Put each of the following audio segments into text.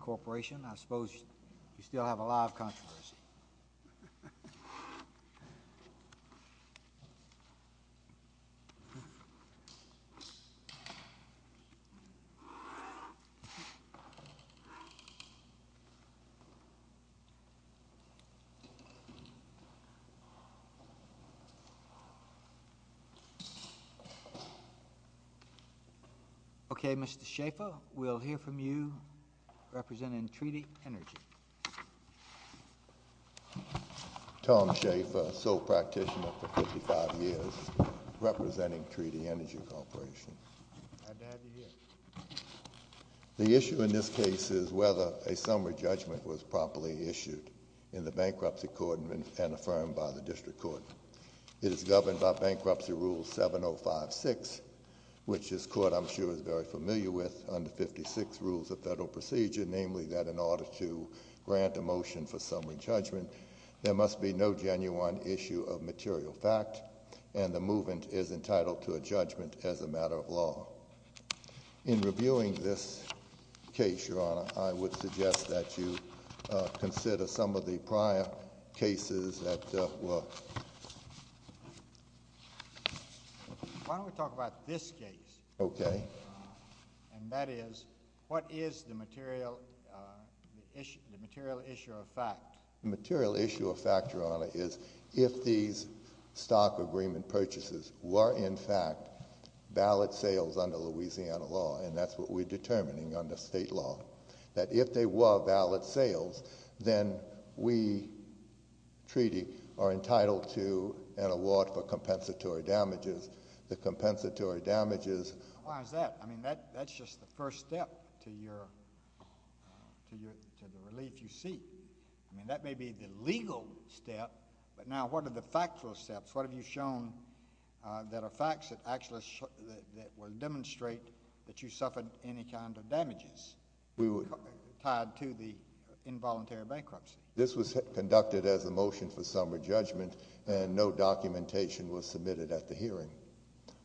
corporation I suppose you still have a lot of controversy okay mr. Schaefer we'll hear from you representing Treaty Energy. Tom Schaefer, sole practitioner for 55 years representing Treaty Energy Corporation. The issue in this case is whether a summary judgment was properly issued in the bankruptcy court and affirmed by the district court. It is governed by bankruptcy rule 7056 which this court I'm sure is very familiar with under 56 rules of federal procedure namely that in order to grant a motion for summary judgment there must be no genuine issue of material fact and the movement is entitled to a judgment as a matter of law. In reviewing this case your honor I would suggest that you consider some of the prior cases that were. Why don't we talk about this case. Okay. And that is what is the material issue the material issue of fact. The material issue of fact your honor is if these stock agreement purchases were in fact valid sales under Louisiana law and that's what we're determining under state law that if they were valid sales then we treaty are entitled to an award for compensatory damages. The compensatory damages. Why is that? I mean that that's just the first step to your to your relief you see. I mean that may be the legal step but now what are the factual steps? What have you shown that are facts that actually that will demonstrate that you suffered any kind of to the involuntary bankruptcy. This was conducted as a motion for summary judgment and no documentation was submitted at the hearing.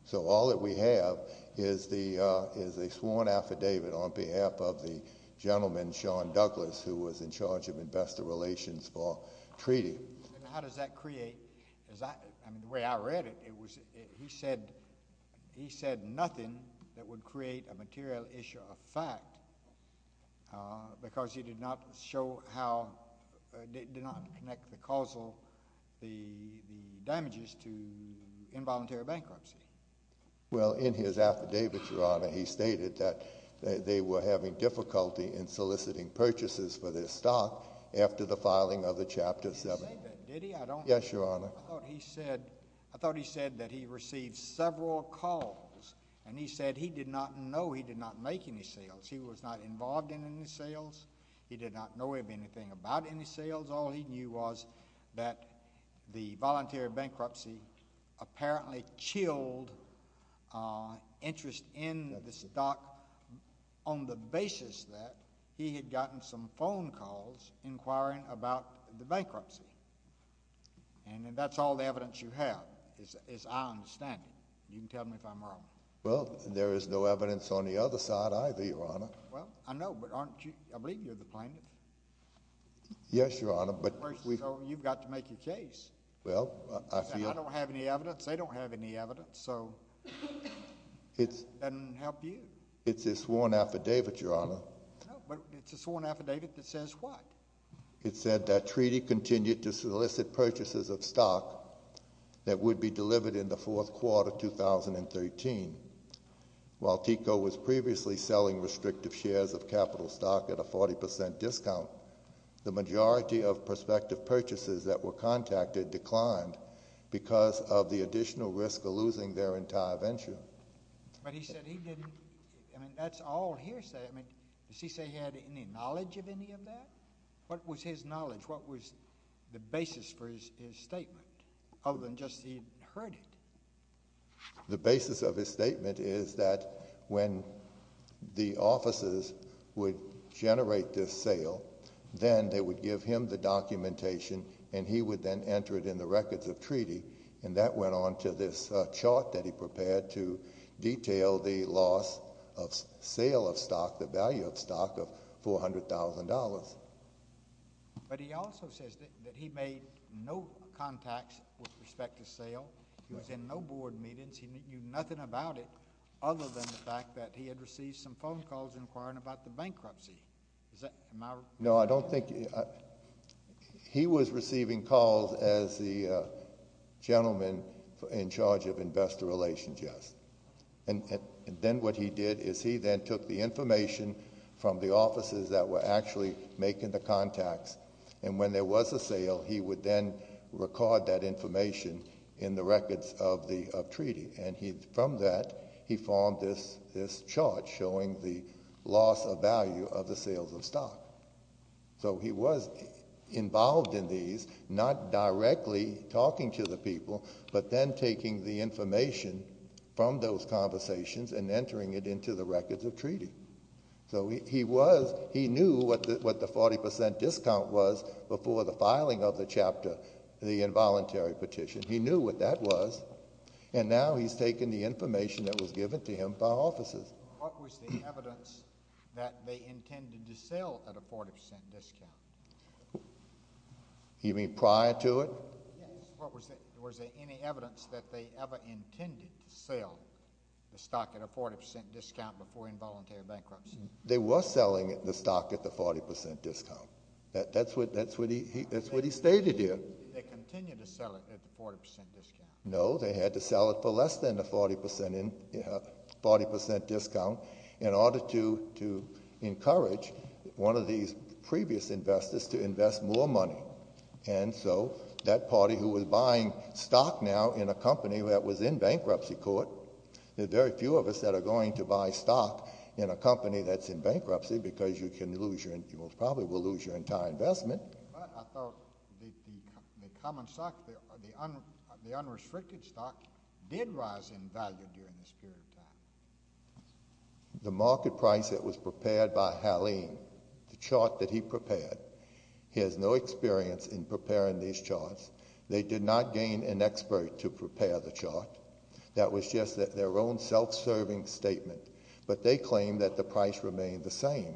So all that we have is the is a sworn affidavit on behalf of the gentleman Sean Douglas who was in charge of investor relations for treaty. How does that create as I I mean the way I read it it was he said he said nothing that would create a material issue of fact because he did not show how did not connect the causal the damages to involuntary bankruptcy. Well in his affidavit your honor he stated that they were having difficulty in soliciting purchases for their stock after the filing of the chapter seven. Yes your honor. He said I thought he said that he received several calls and he said he did not know he did not make any sales. He was not involved in any sales. He did not know of anything about any sales. All he knew was that the voluntary bankruptcy apparently chilled interest in the stock on the basis that he had gotten some phone calls inquiring about the bankruptcy. And that's all the evidence you have. Well I know but aren't you I believe you're the plaintiff. Yes your honor but you've got to make your case. Well I don't have any evidence they don't have any evidence so it's and help you. It's a sworn affidavit your honor. It's a sworn affidavit that says what? It said that treaty continued to solicit purchases of stock that would be delivered in the fourth quarter 2013. While TECO was previously selling restrictive shares of capital stock at a 40% discount the majority of prospective purchases that were contacted declined because of the additional risk of losing their entire venture. But he said he didn't I mean that's all hearsay I mean does he say he had any knowledge of any of that? What was his knowledge? What was the basis for his statement other than just he heard it? The basis of his statement is that when the offices would generate this sale then they would give him the documentation and he would then enter it in the records of treaty and that went on to this chart that he prepared to detail the loss of sale of contracts with respect to sale. He was in no board meetings he knew nothing about it other than the fact that he had received some phone calls inquiring about the bankruptcy. No I don't think he was receiving calls as the gentleman in charge of investor relations yes and then what he did is he then took the information from the offices that were actually making the contacts and when there was a sale he would then record that information in the records of the of treaty and he from that he formed this this chart showing the loss of value of the sales of stock. So he was involved in these not directly talking to the people but then taking the information from those conversations and entering it into the records of treaty. So he was he knew what the 40% discount was before the filing of the chapter the involuntary petition. He knew what that was and now he's taken the information that was given to him by offices. What was the evidence that they intended to sell at a 40% discount? You mean prior to it? Was there any evidence that they ever intended to sell the stock at a 40% discount before involuntary bankruptcy? They were selling it the stock at the 40% discount. That's what that's what he that's what he stated here. No they had to sell it for less than the 40% in 40% discount in order to to encourage one of these previous investors to invest more money and so that party who was buying stock now in a company that was in bankruptcy court the very few of us that are going to buy stock in a company that's in bankruptcy because you can lose your you most probably will lose your entire investment. I thought the common stock, the unrestricted stock did rise in value during this period of time. The market price that was prepared by Haleem, the chart that he prepared, he has no experience in preparing these charts. They did not gain an expert to prepare the chart. That was just that their own self-serving statement but they claim that the price remained the same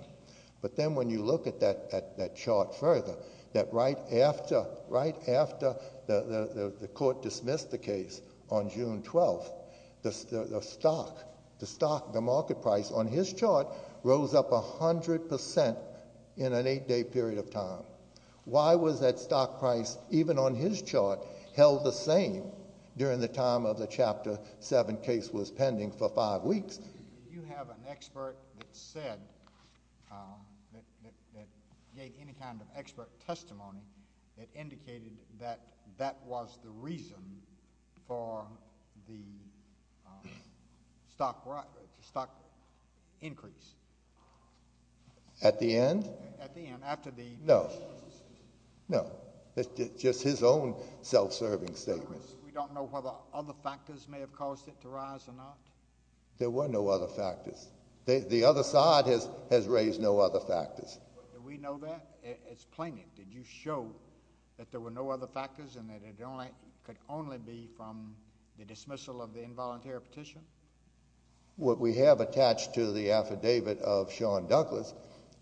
but then when you look at that that chart further that right after right after the the court dismissed the case on June 12th the stock the stock the market price on his chart rose up a hundred percent in an eight-day period of time. Why was that stock price even on his chart held the same during the time of the chapter 7 case was pending for five weeks. You have an expert that said that gave any kind of expert testimony that indicated that that was the reason for the stock price stock increase. At the end? At the end after the. No no it's just his own self-serving statement. We don't know whether other factors may have caused it to rise or not? There were no other factors. The other side has has raised no other factors. Do we know that? Explain it. Did you show that there were no other factors and that it only could only be from the dismissal of the involuntary petition? What we have attached to the affidavit of Sean Douglas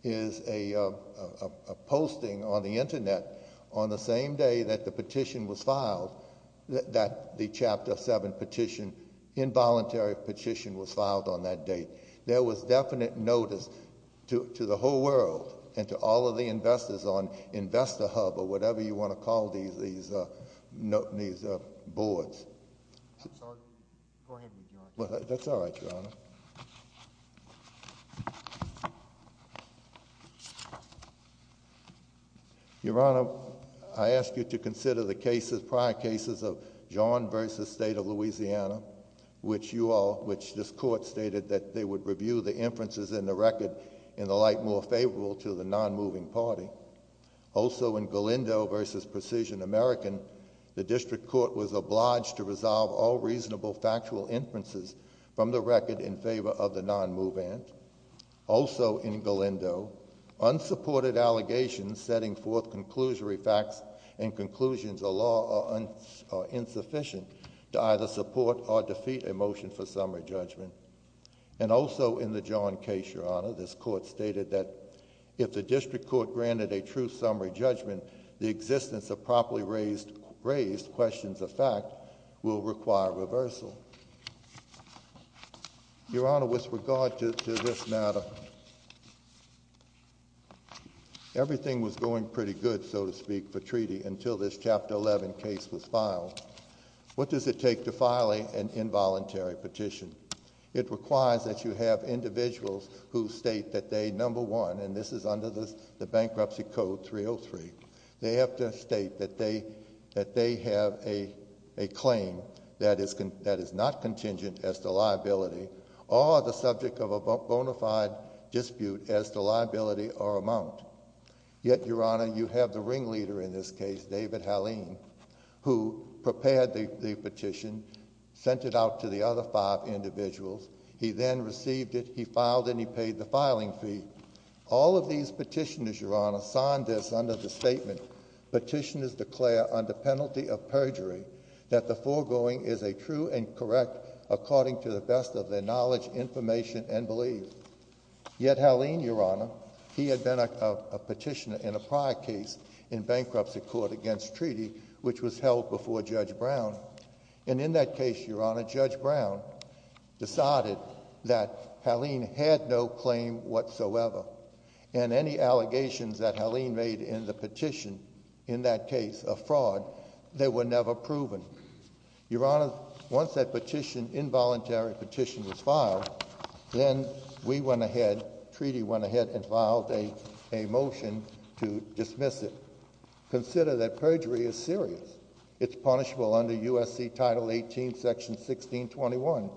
is a posting on the that the chapter 7 petition involuntary petition was filed on that date. There was definite notice to to the whole world and to all of the investors on investor hub or whatever you want to call these these uh these uh boards. I'm sorry go ahead. Well that's all right your honor. Your honor I ask you to consider the cases prior cases of John versus state of Louisiana which you all which this court stated that they would review the inferences in the record in the light more favorable to the non-moving party. Also in Galindo versus Precision American the district court was obliged to resolve all reasonable factual inferences from the record in favor of the non-movement. Also in Galindo unsupported allegations setting forth conclusory facts and conclusions of law are insufficient to either support or defeat a motion for summary judgment. And also in the John case your honor this court stated that if the district court granted a raised questions of fact will require reversal. Your honor with regard to this matter everything was going pretty good so to speak for treaty until this chapter 11 case was filed. What does it take to file an involuntary petition? It requires that you have individuals who state that they number one and this is under the bankruptcy code 303. They have to state that that they have a a claim that is that is not contingent as the liability or the subject of a bona fide dispute as the liability or amount. Yet your honor you have the ringleader in this case David Haleen who prepared the petition sent it out to the other five individuals. He then received it he filed and he paid the filing fee. All of these petitioners your honor signed this under the statement petitioners declare under penalty of perjury that the foregoing is a true and correct according to the best of their knowledge information and belief. Yet Haleen your honor he had been a petitioner in a prior case in bankruptcy court against treaty which was held before Judge Brown and in that case your honor Judge Brown decided that Haleen had no claim whatsoever and any allegations that Haleen made in the petition in that case of fraud they were never proven. Your honor once that petition involuntary petition was filed then we went ahead treaty went ahead and filed a a motion to dismiss it. Consider that perjury is serious it's punishable under USC title 18 section 1621.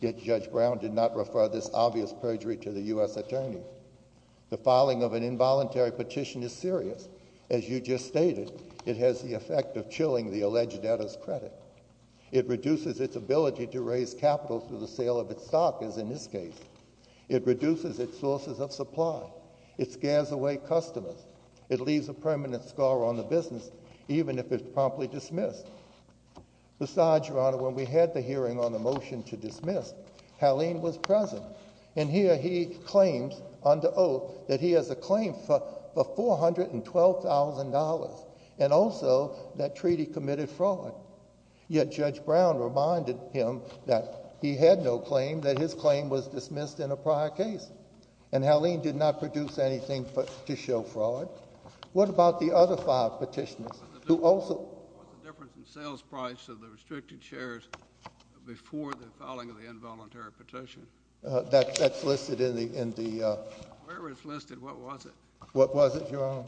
Yet Judge Brown did not refer this obvious perjury to the U.S. attorney. The filing of an involuntary petition is serious as you just stated it has the effect of chilling the alleged debtor's credit. It reduces its ability to raise capital through the sale of its stock as in this case. It reduces its sources of supply. It scares away customers. It leaves a permanent scar on the business even if it's promptly dismissed. Besides your honor when we had the hearing on the motion to dismiss Haleen was present and here he claims under oath that he has a claim for four hundred and twelve thousand dollars and also that treaty committed fraud. Yet Judge Brown reminded him that he had no claim that his claim was dismissed in a prior case and Haleen did not produce anything for to show fraud. What about the other five petitioners who were in favor of the dismissal of Haleen's claim and the other five petitioners who were in favor of the dismissal of Haleen's claim? What was the difference in sales price of the restricted shares before the filing of the involuntary petition? That's listed in the in the uh. Where it's listed what was it? What was it your honor?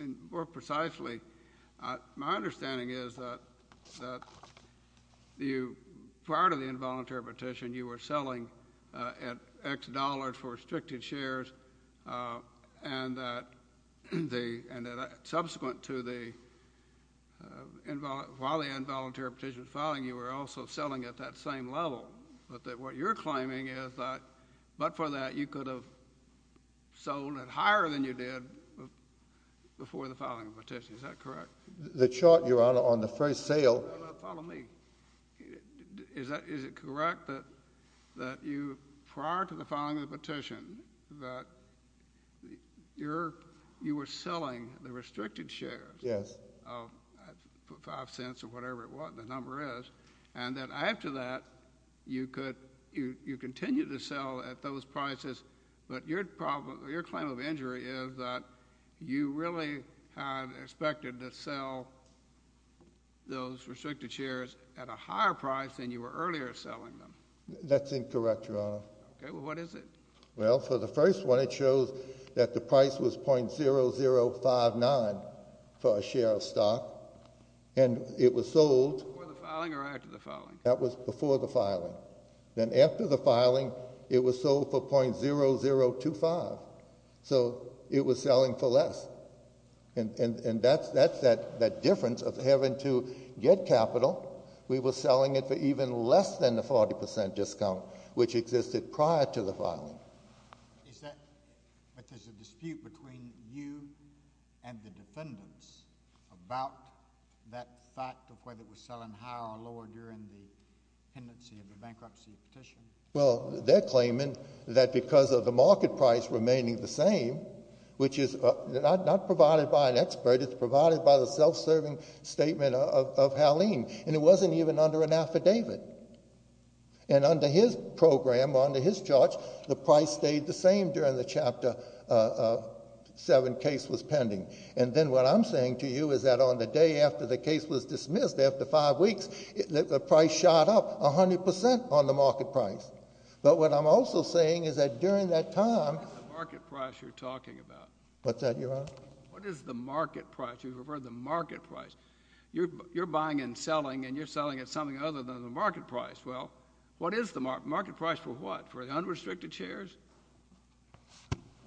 And more precisely my understanding is that that you prior to the involuntary petition you were selling at x dollars for restricted shares and that the and that subsequent to the invol while the involuntary petition filing you were also selling at that same level but that what you're claiming is that but for that you could have sold at higher than you did before the filing of petition. Is that correct? The chart your honor on the first sale. Follow me. Is that is it correct that that you prior to the filing of the petition that your you were selling the restricted shares? Yes. Of five cents or whatever it was the number is and that after that you could you you continue to sell at those prices but your problem your claim of injury is that you really had expected to sell those restricted shares at a higher price than you were earlier selling them. That's incorrect your honor. Okay well what is it? Well for the first one it shows that the price was 0.0059 for a share of stock and it was sold. Before the filing or after the filing? That was before the 0.0025 so it was selling for less and and and that's that's that that difference of having to get capital we were selling it for even less than the 40 percent discount which existed prior to the filing. Is that but there's a dispute between you and the defendants about that fact of whether it was selling higher or lower during the pendency of the bankruptcy petition? Well they're claiming that because of the market price remaining the same which is not provided by an expert it's provided by the self-serving statement of of Haleem and it wasn't even under an affidavit and under his program under his charge the price stayed the same during the chapter seven case was pending and then what I'm saying to you is that on the day after the case was is that during that time the market price you're talking about what's that your honor what is the market price you've heard the market price you're you're buying and selling and you're selling at something other than the market price well what is the market price for what for the unrestricted shares?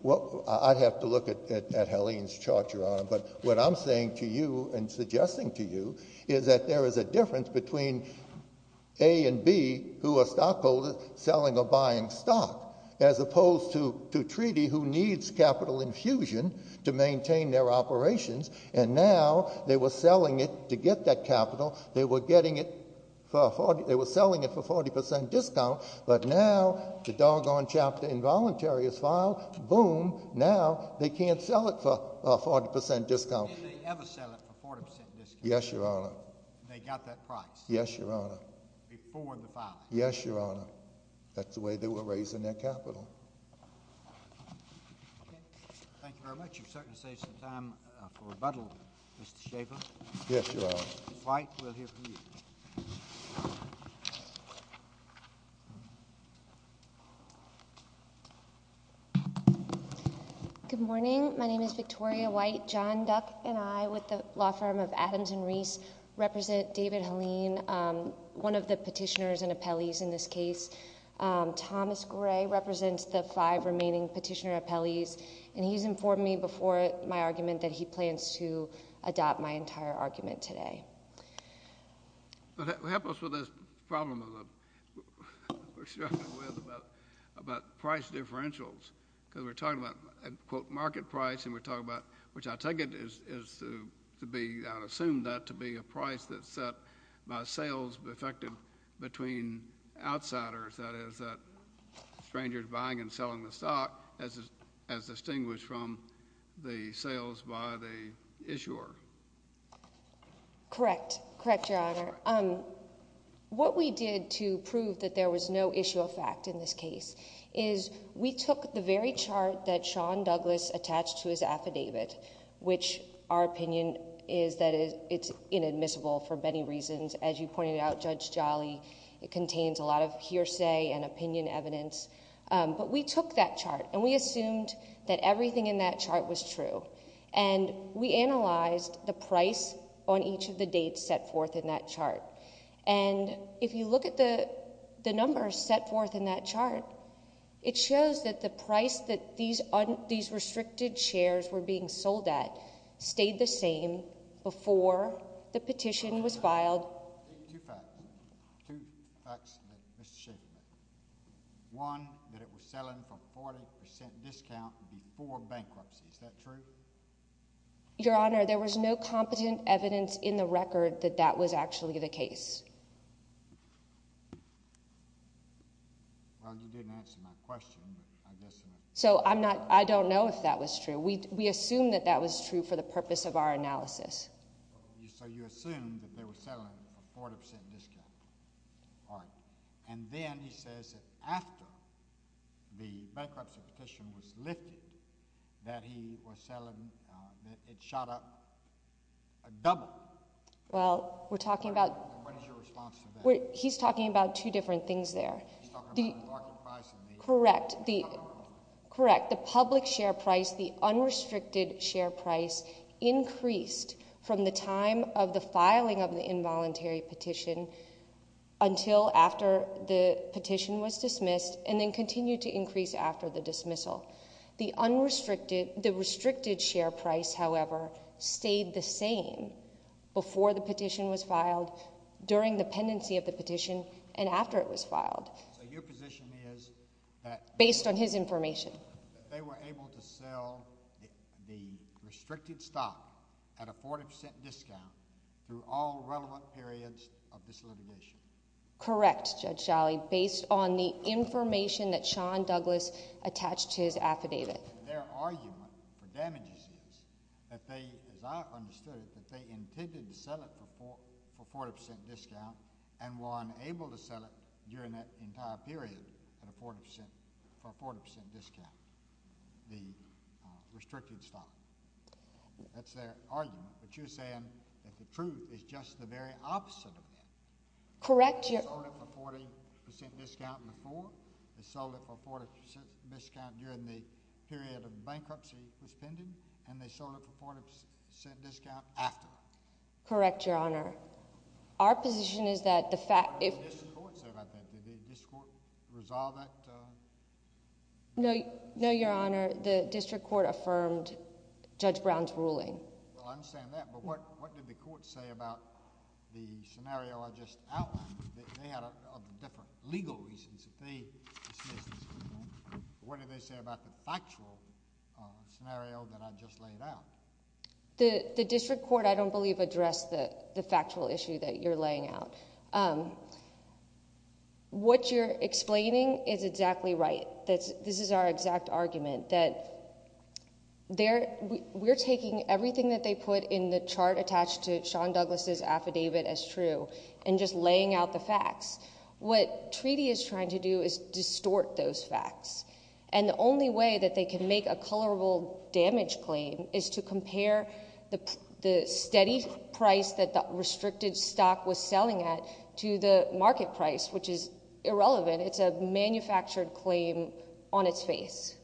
Well I'd have to look at at Haleem's chart your honor but what I'm saying to you and suggesting to you is that there is a difference between a and b who a stockholder selling or buying stock as opposed to to treaty who needs capital infusion to maintain their operations and now they were selling it to get that capital they were getting it for 40 they were selling it for 40 discount but now the doggone chapter involuntary is filed boom now they can't sell it for a 40 discount. Did they ever sell it for 40 discount? Yes your honor. They got that price? Yes your honor. Before the file? Yes your honor that's the way they were raising their capital. Okay thank you very much you've certainly saved some time for rebuttal Mr. Schaffer. Yes your honor. White we'll hear from you. Good morning my name is Victoria White. John Duck and I with the law firm of Adams and Reese represent David Haleem one of the petitioners and appellees in this case. Thomas Gray represents the five remaining petitioner appellees and he's informed me before my argument that he plans to adopt my entire argument today. What happens with this problem of the about price differentials because we're talking about a quote market price and we're talking about which I take it is is to be I'd assume that to be a price that's set by sales effective between outsiders that is that strangers buying and selling the stock as as distinguished from the sales by the issuer. Correct correct your honor um what we did to prove that there was no issue of fact in this case is we took the very chart that Sean Douglas attached to his affidavit which our opinion is that it's inadmissible for many reasons as you pointed out Judge Jolly it contains a lot of hearsay and opinion evidence but we took that chart and we assumed that everything in that chart was true and we analyzed the price on each of the dates set forth in that chart it shows that the price that these these restricted shares were being sold at stayed the same before the petition was filed two facts two facts that Mr. Shaffer made one that it was selling for 40 discount before bankruptcy is that true your honor there was no competent evidence in the record that that was actually the case well you didn't answer my question but I guess so I'm not I don't know if that was true we we assume that that was true for the purpose of our analysis so you assume that they were selling a 40 discount all right and then he says that after the bankruptcy petition was lifted that he was selling that it shot up a double well we're talking about what is your response we're he's talking about two different things there correct the correct the public share price the unrestricted share price increased from the time of the filing of the involuntary petition until after the petition was dismissed and then continued to increase after the dismissal the unrestricted the restricted share price however stayed the same before the petition was filed during the pendency of the petition and after it was filed so your position is that based on his information that they were able to sell the restricted stock at a 40 discount through all relevant periods of this litigation correct judge shally based on the information that sean douglas attached his affidavit their argument for damages is that they as i understood it that they intended to sell it before for 40 discount and were unable to sell it during that entire period at a 40 percent for 40 discount the restricted stock that's their argument but you're saying that the truth is just the very opposite of that correct you're 40 discount before they sold it for 40 discount during the period of bankruptcy was pending and they showed up for 40 percent discount after correct your honor our position is that the fact if the court said about that did this court resolve that no no your honor the district court affirmed judge brown's ruling well i understand that but what what did the court say about the scenario i just outlined that they had a different legal reasons if they dismissed what did they say about the factual scenario that i just laid out the the district court i don't believe addressed the the factual issue that you're laying out what you're explaining is exactly right that's this is our exact argument that there we're taking everything that they put in the chart attached to sean douglas's affidavit as true and just laying out the facts what treaty is trying to do is distort those facts and the only way that they can make a colorable damage claim is to compare the the steady price that the restricted stock was selling at to the market price which is irrelevant it's a manufactured claim on its face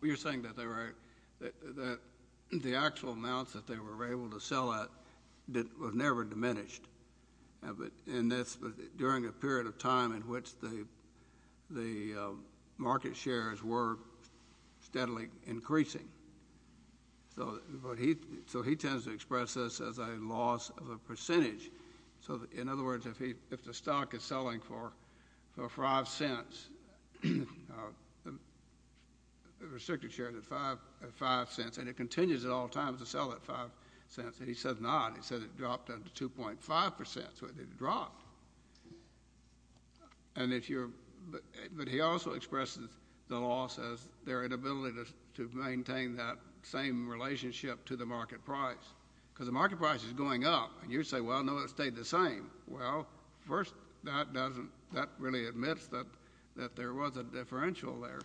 well you're saying that they were that the actual amounts that they were able to sell that that was never diminished but in this during a period of time in which the the market shares were steadily increasing so but he so he tends to express this as a loss of a percentage so in other words if he if the stock is selling for for five cents uh the restricted shares at five at five cents and it continues at all times to sell at five cents and he says not he said it dropped up to 2.5 percent so it dropped and if you're but he also expresses the loss as their inability to maintain that same relationship to the market price because the market price is going up and you say well no it stayed the same well first that doesn't that really admits that that there was a differential there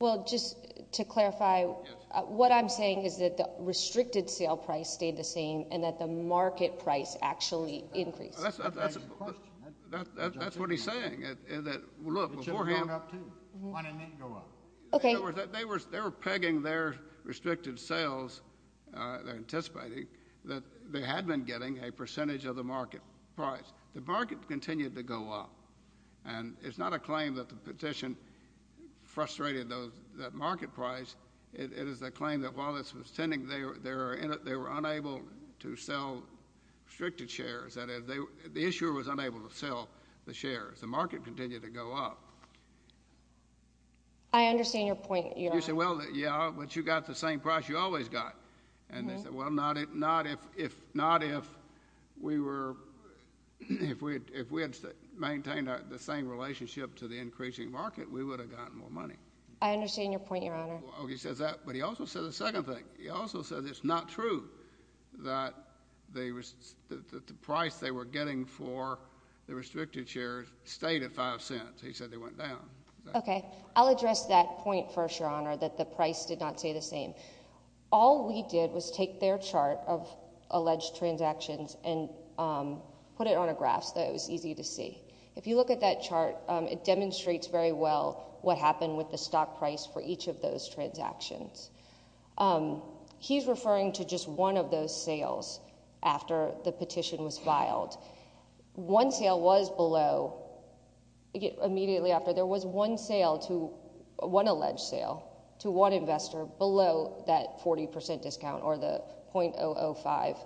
well just to clarify what i'm saying is that the restricted sale price stayed the same and that the market price actually increased that's that's what he's saying is that look okay they were they were pegging their restricted sales uh they're anticipating that they had been getting a percentage of the market price the market continued to go up and it's not a claim that the petition frustrated those that market price it is a claim that while this was tending they were they were in it they were unable to sell restricted shares that is they the issuer was unable to sell the shares the market continued to go up i understand your point you said well yeah but you got the same price you always got and they said well not if not if if not if we were if we if we had maintained the same relationship to the increasing market we would have gotten more money i understand your point your honor oh he says that but he also said the second thing he also said it's not true that they was that the price they were getting for the restricted shares stayed at five cents he said they went down okay i'll address that point first your honor that the price did not stay the all we did was take their chart of alleged transactions and put it on a graph so it was easy to see if you look at that chart it demonstrates very well what happened with the stock price for each of those transactions he's referring to just one of those sales after the petition was filed one sale was below immediately after there was one sale to one alleged sale to one investor below that 40 discount or the 0.005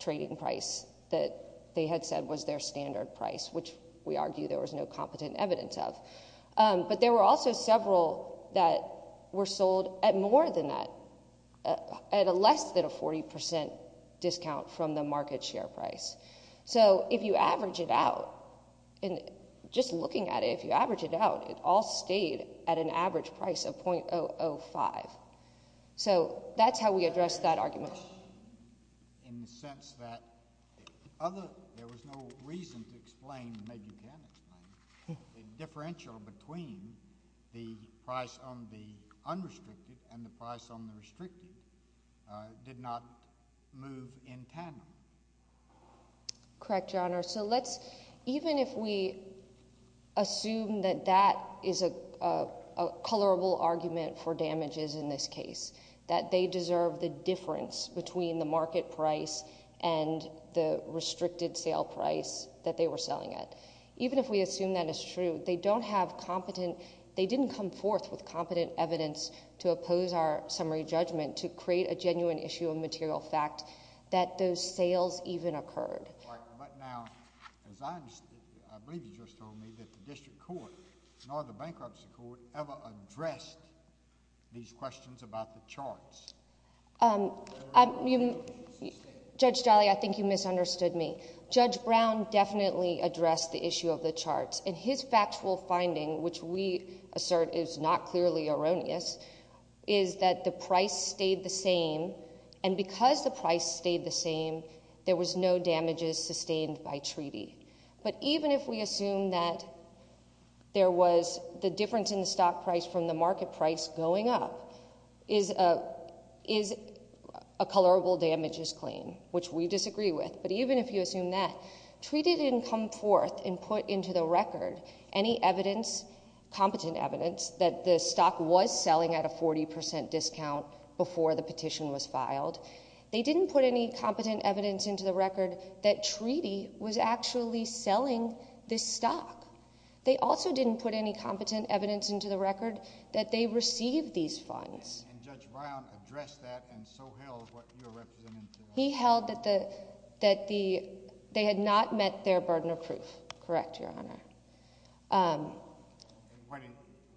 trading price that they had said was their standard price which we argue there was no competent evidence of but there were also several that were sold at more than that at a less than a 40 discount from the market share price so if you average it out and just looking at it if you average it out it all stayed at an average price of 0.005 so that's how we address that argument in the sense that other there was no reason to explain maybe you can explain the differential between the price on the unrestricted and the price on the restricted uh did not move in tandem correct your honor so let's even if we assume that that is a a colorable argument for damages in this case that they deserve the difference between the market price and the restricted sale price that they were selling at even if we assume that is true they don't have competent they didn't come forth with competent evidence to oppose our summary judgment to create a genuine issue of sales even occurred but now as i believe you just told me that the district court nor the bankruptcy court ever addressed these questions about the charts um i mean judge jolly i think you misunderstood me judge brown definitely addressed the issue of the charts and his factual finding which we assert is not clearly erroneous is that the price stayed the same and because the price stayed the same there was no damages sustained by treaty but even if we assume that there was the difference in the stock price from the market price going up is a is a colorable damages claim which we disagree with but even if you assume that treaty didn't come forth and put into the record any evidence competent evidence that the stock was selling at a 40 discount before the petition was filed they didn't put any competent evidence into the record that treaty was actually selling this stock they also didn't put any competent evidence into the record that they received these funds and judge brown addressed that and so held what you're representing he held that the that the they had not met their burden of proof correct your honor um what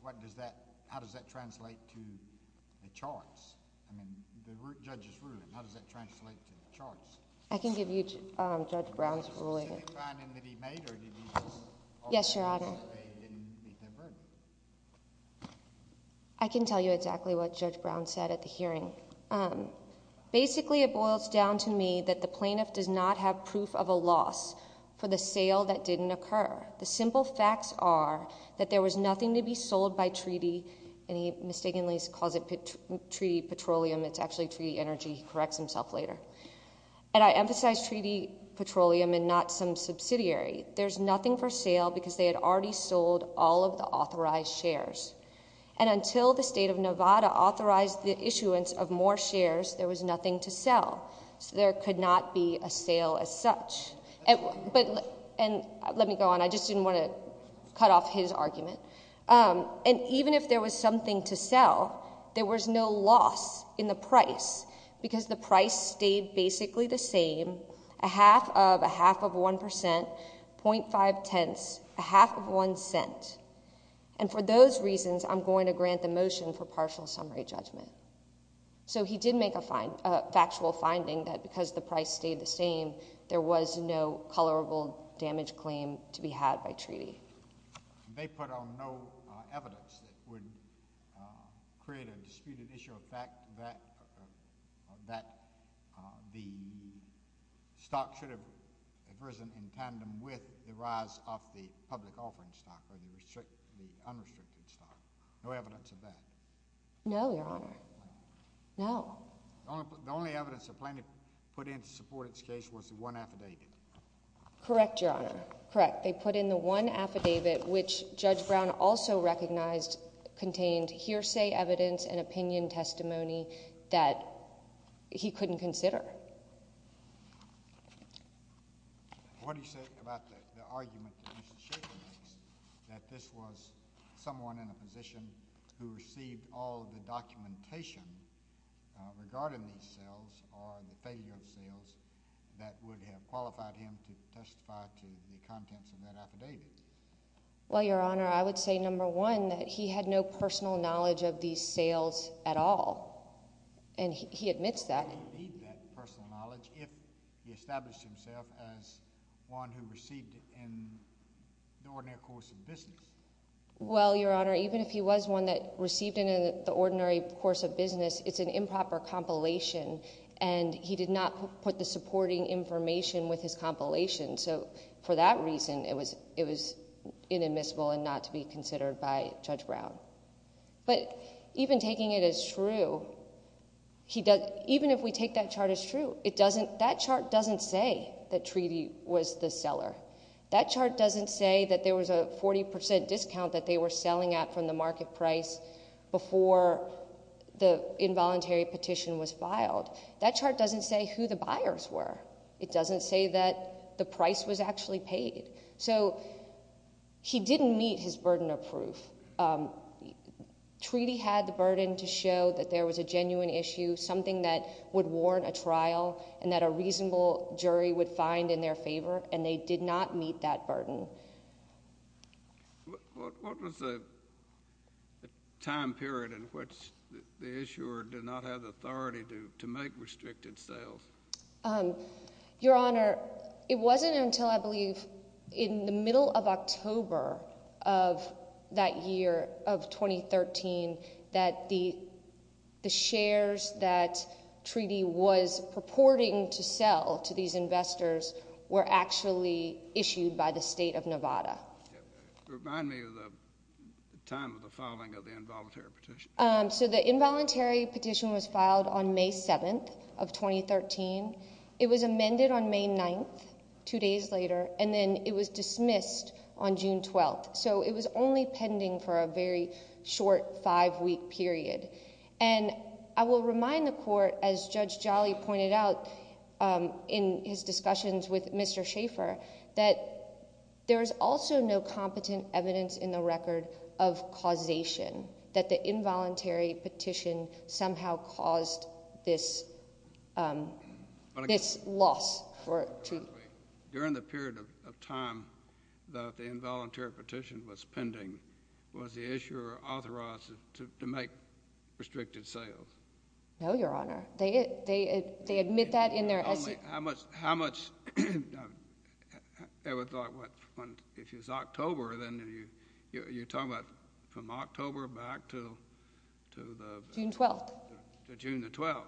what does that how does that translate to the charts i mean the judges ruling how does that translate to the charts i can give you um judge brown's ruling yes your honor i can tell you exactly what judge brown said at the hearing um basically it boils down to me that plaintiff does not have proof of a loss for the sale that didn't occur the simple facts are that there was nothing to be sold by treaty and he mistakenly calls it treaty petroleum it's actually treaty energy he corrects himself later and i emphasize treaty petroleum and not some subsidiary there's nothing for sale because they had already sold all of the authorized shares and until the state of nevada authorized the issuance of more shares there was nothing to sell so there could not be a sale as such and but and let me go on i just didn't want to cut off his argument um and even if there was something to sell there was no loss in the price because the price stayed basically the same a half of a half of one percent point five tenths a half of one cent and for those reasons i'm going to grant the motion for partial summary judgment so he did make a fine a factual finding that because the price stayed the same there was no colorable damage claim to be had by treaty they put on no evidence that would create a disputed issue of fact that that the stock should have risen in tandem with the rise of the public offering stock or the restrict the unrestricted stock no evidence of that no your honor no the only evidence the planning put in to support its case was the one affidavit correct your honor correct they put in the one affidavit which judge brown also recognized contained hearsay evidence and opinion testimony that he couldn't consider it what do you say about the argument that this was someone in a position who received all the documentation regarding these sales or the failure of sales that would have qualified him to testify to the contents of that affidavit well your honor i would say number one that he had no personal knowledge of these sales at all and he admits that he did that personal knowledge if he established himself as one who received it in the ordinary course of business well your honor even if he was one that received in the ordinary course of business it's an improper compilation and he did not put the supporting information with his compilation so for that reason it was inadmissible and not to be considered by judge brown but even taking it as true he does even if we take that chart as true it doesn't that chart doesn't say that treaty was the seller that chart doesn't say that there was a 40 discount that they were selling at from the market price before the involuntary petition was filed that chart doesn't say who the buyers were it doesn't say that the price was actually paid so he didn't meet his burden of proof treaty had the burden to show that there was a genuine issue something that would warrant a trial and that a reasonable jury would find in their favor and they did not meet that burden what was the time period in which the issuer did not have the authority to to make restricted sales um your honor it wasn't until i believe in the middle of october of that year of 2013 that the the shares that treaty was purporting to sell to these investors were actually issued by the state of nevada remind me of the time of the filing of the involuntary petition um so the involuntary petition was filed on may 7th of 2013 it was amended on may 9th two days later and then it was dismissed on june 12th so it was only pending for a very short five week period and i will remind the court as judge jolly pointed out um in his discussions with mr shaffer that there is also no competent evidence in the record of causation that the involuntary petition somehow caused this um this loss for two during the period of time that the involuntary petition was pending was the issuer authorized to make restricted sales no your honor they they they admit that in their how much how much ever thought what when if it's october then you you're talking about from october back to to the june 12th to june the 12th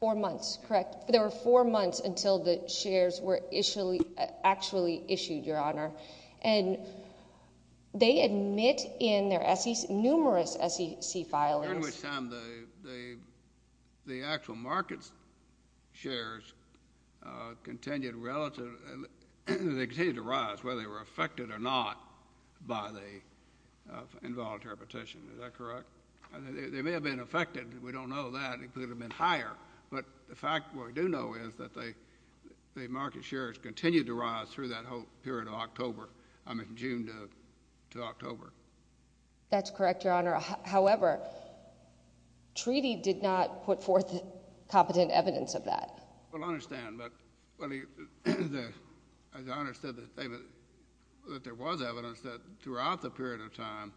four months correct there were four months until the shares were initially actually issued your honor and they admit in their sec numerous sec filing which time the the the actual markets shares uh continued relative they continue to rise whether they were affected or not by the involuntary petition is that correct they may have been affected we don't know that it could have been higher but the fact what we do know is that they the market shares continued to rise through that whole period of october i mean june to october that's correct your honor however treaty did not put forth competent evidence of that well i understand but well the as i understood that david that there was evidence that throughout the period of time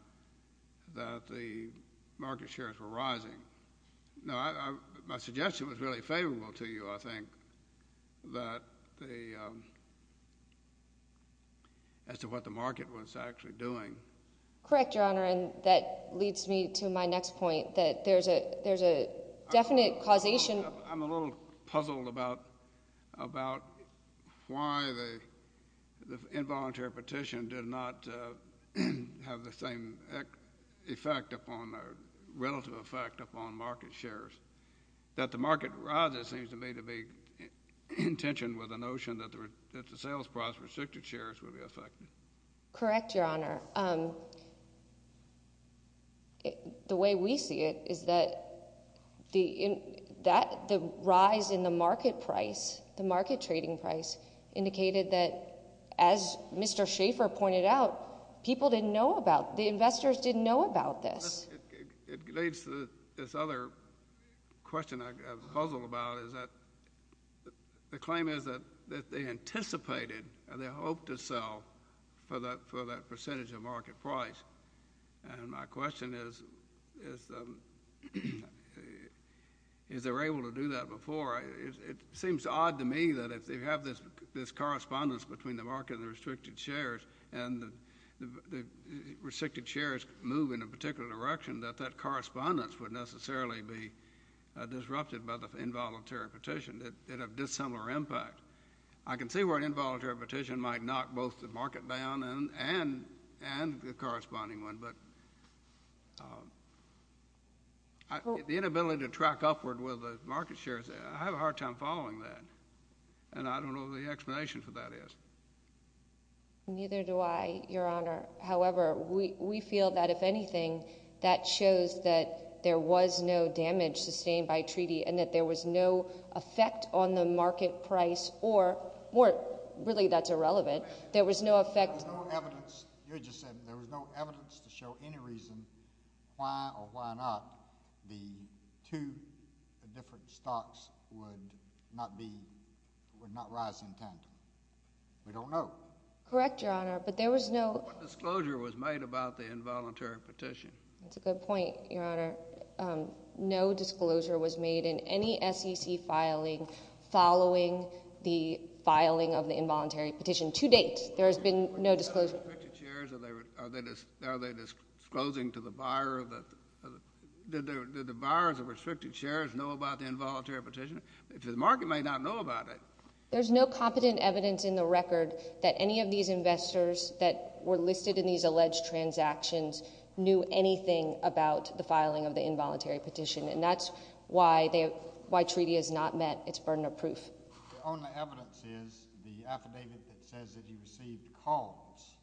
that the market shares were rising no i my suggestion was really favorable to you i think that the um as to what the market was actually doing correct your honor and that leads me to my next point that there's a there's a definite causation i'm a little puzzled about about why the the involuntary petition did not have the same effect upon a relative effect upon market shares that the restricted shares would be affected correct your honor um the way we see it is that the that the rise in the market price the market trading price indicated that as mr shaffer pointed out people didn't know about the investors didn't know about it leads to this other question i've puzzled about is that the claim is that that they anticipated and they hope to sell for that for that percentage of market price and my question is is um is they were able to do that before it seems odd to me that if they have this this correspondence between the market and the restricted shares and the the restricted shares move in a particular direction that that correspondence would necessarily be disrupted by the involuntary petition that have dissimilar impact i can see where an involuntary petition might knock both the market down and and and the corresponding one but the inability to track upward with the market shares i have a hard time following that and i don't know the explanation for that is neither do i your honor however we we feel that if anything that shows that there was no damage sustained by treaty and that there was no effect on the market price or more really that's irrelevant there was no effect no evidence you just said there was no evidence to show any reason why or why not the two different stocks would not be would not rise intent we don't know correct your honor but there was no disclosure was made about the involuntary petition that's a good point your honor um no disclosure was made in any sec filing following the filing of the involuntary petition to date there has been no disclosure chairs are they are they just are they disclosing to the buyer of the did the buyers of restricted shares know about the involuntary petition if the market may not know about it there's no competent evidence in the record that any of these investors that were listed in these alleged transactions knew anything about the filing of the involuntary petition and that's why they why treaty is not met it's burden of proof the only evidence is the affidavit that says that he received calls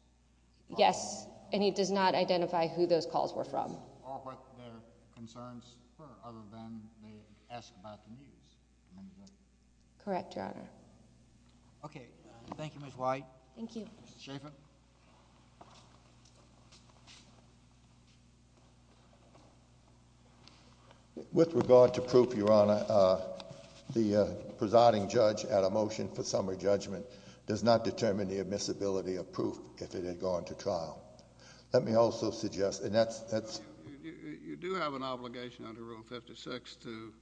yes and he does not identify who those calls were from or what their concerns were other than they asked about the news correct your honor okay thank you mrs white thank you with regard to proof your honor uh the uh presiding judge at a motion for summary judgment does not determine the admissibility of proof if it had gone to trial let me also suggest and that's that's you do have an obligation under rule 56 to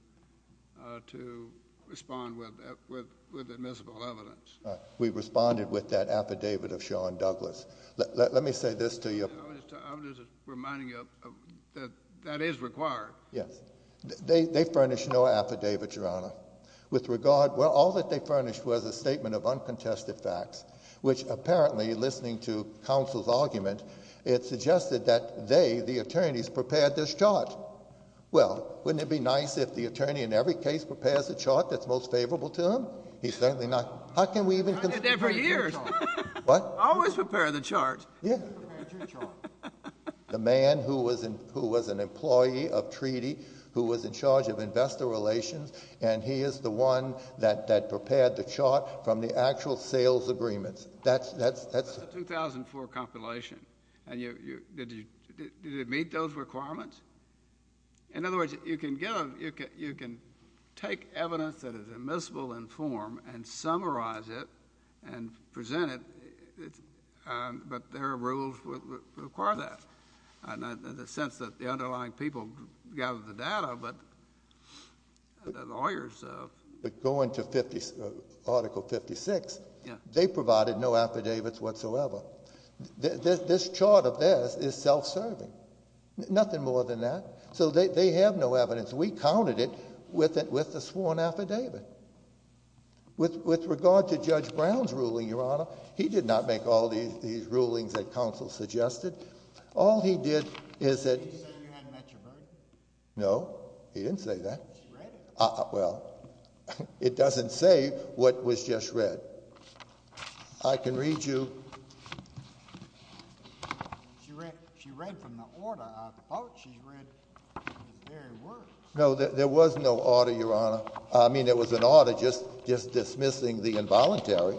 uh to respond with with with admissible evidence we responded with that affidavit of sean douglas let me say this to you i'm just reminding you that that is required yes they furnish no affidavit your honor with regard well all that they furnished was a statement of uncontested facts which apparently listening to counsel's argument it suggested that they the attorneys prepared this chart well wouldn't it be nice if the attorney in every case prepares a chart that's most favorable to him he's certainly not how can we even do that for years what always prepare the chart yeah the man who was in who was an employee of treaty who was in charge of investor relations and he is the one that that prepared the chart from the actual sales agreements that's that's that's the 2004 compilation and you you did you did it meet those requirements in other words you can you can take evidence that is admissible in form and summarize it and present it but there are rules that require that and in the sense that the underlying people gather the data but the lawyers uh but going to 50 article 56 yeah they provided no affidavits whatsoever this chart of this is self-serving nothing more than that so they have no evidence we counted it with it with the sworn affidavit with with regard to judge brown's ruling your honor he did not make all these these rulings that counsel suggested all he did is that met your burden no he didn't say that well it doesn't say what was just read i can read you no there was no order your honor i mean it was an order just just dismissing the involuntary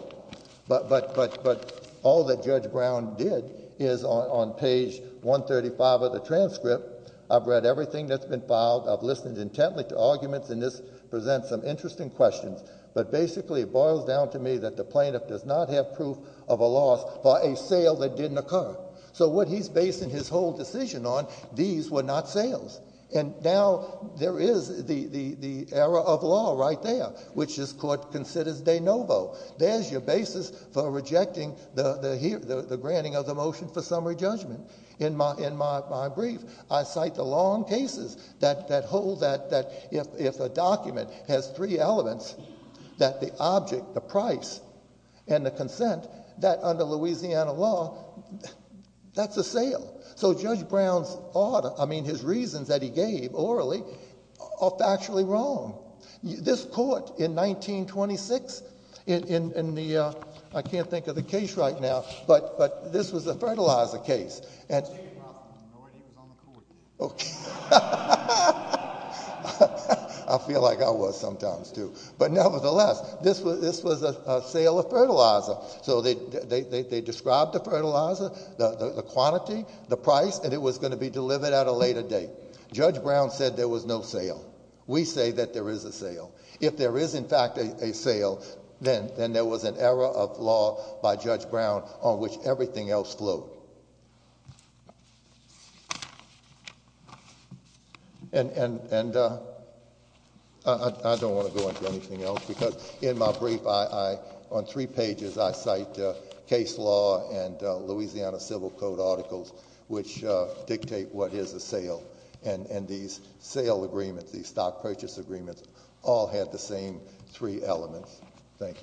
but but but but all that judge brown did is on page 135 of the transcript i've read everything that's been filed i've listened intently to arguments and this presents some interesting questions but basically it boils down to me that the plaintiff does not have proof of a loss for a sale that didn't occur so what he's basing his whole decision on these were not sales and now there is the the the era of law right there which this court considers de novo there's your basis for rejecting the the here the granting of the motion for summary judgment in my in my brief i cite the long cases that that hold that that if if a document has three elements that the object the price and the consent that under louisiana law that's a sale so judge brown's order i mean his reasons that he gave orally are factually wrong this court in 1926 in in the uh i can't think of the case right now but but this was a fertilizer case and i feel like i was sometimes too but nevertheless this was this was a sale of fertilizer so they they they described the judge brown said there was no sale we say that there is a sale if there is in fact a sale then then there was an error of law by judge brown on which everything else flowed and and and uh i i don't want to go into anything else because in my brief i i on three pages i cite case law and louisiana civil code articles which dictate what is the sale and and these sale agreements these stock purchase agreements all had the same three elements thank you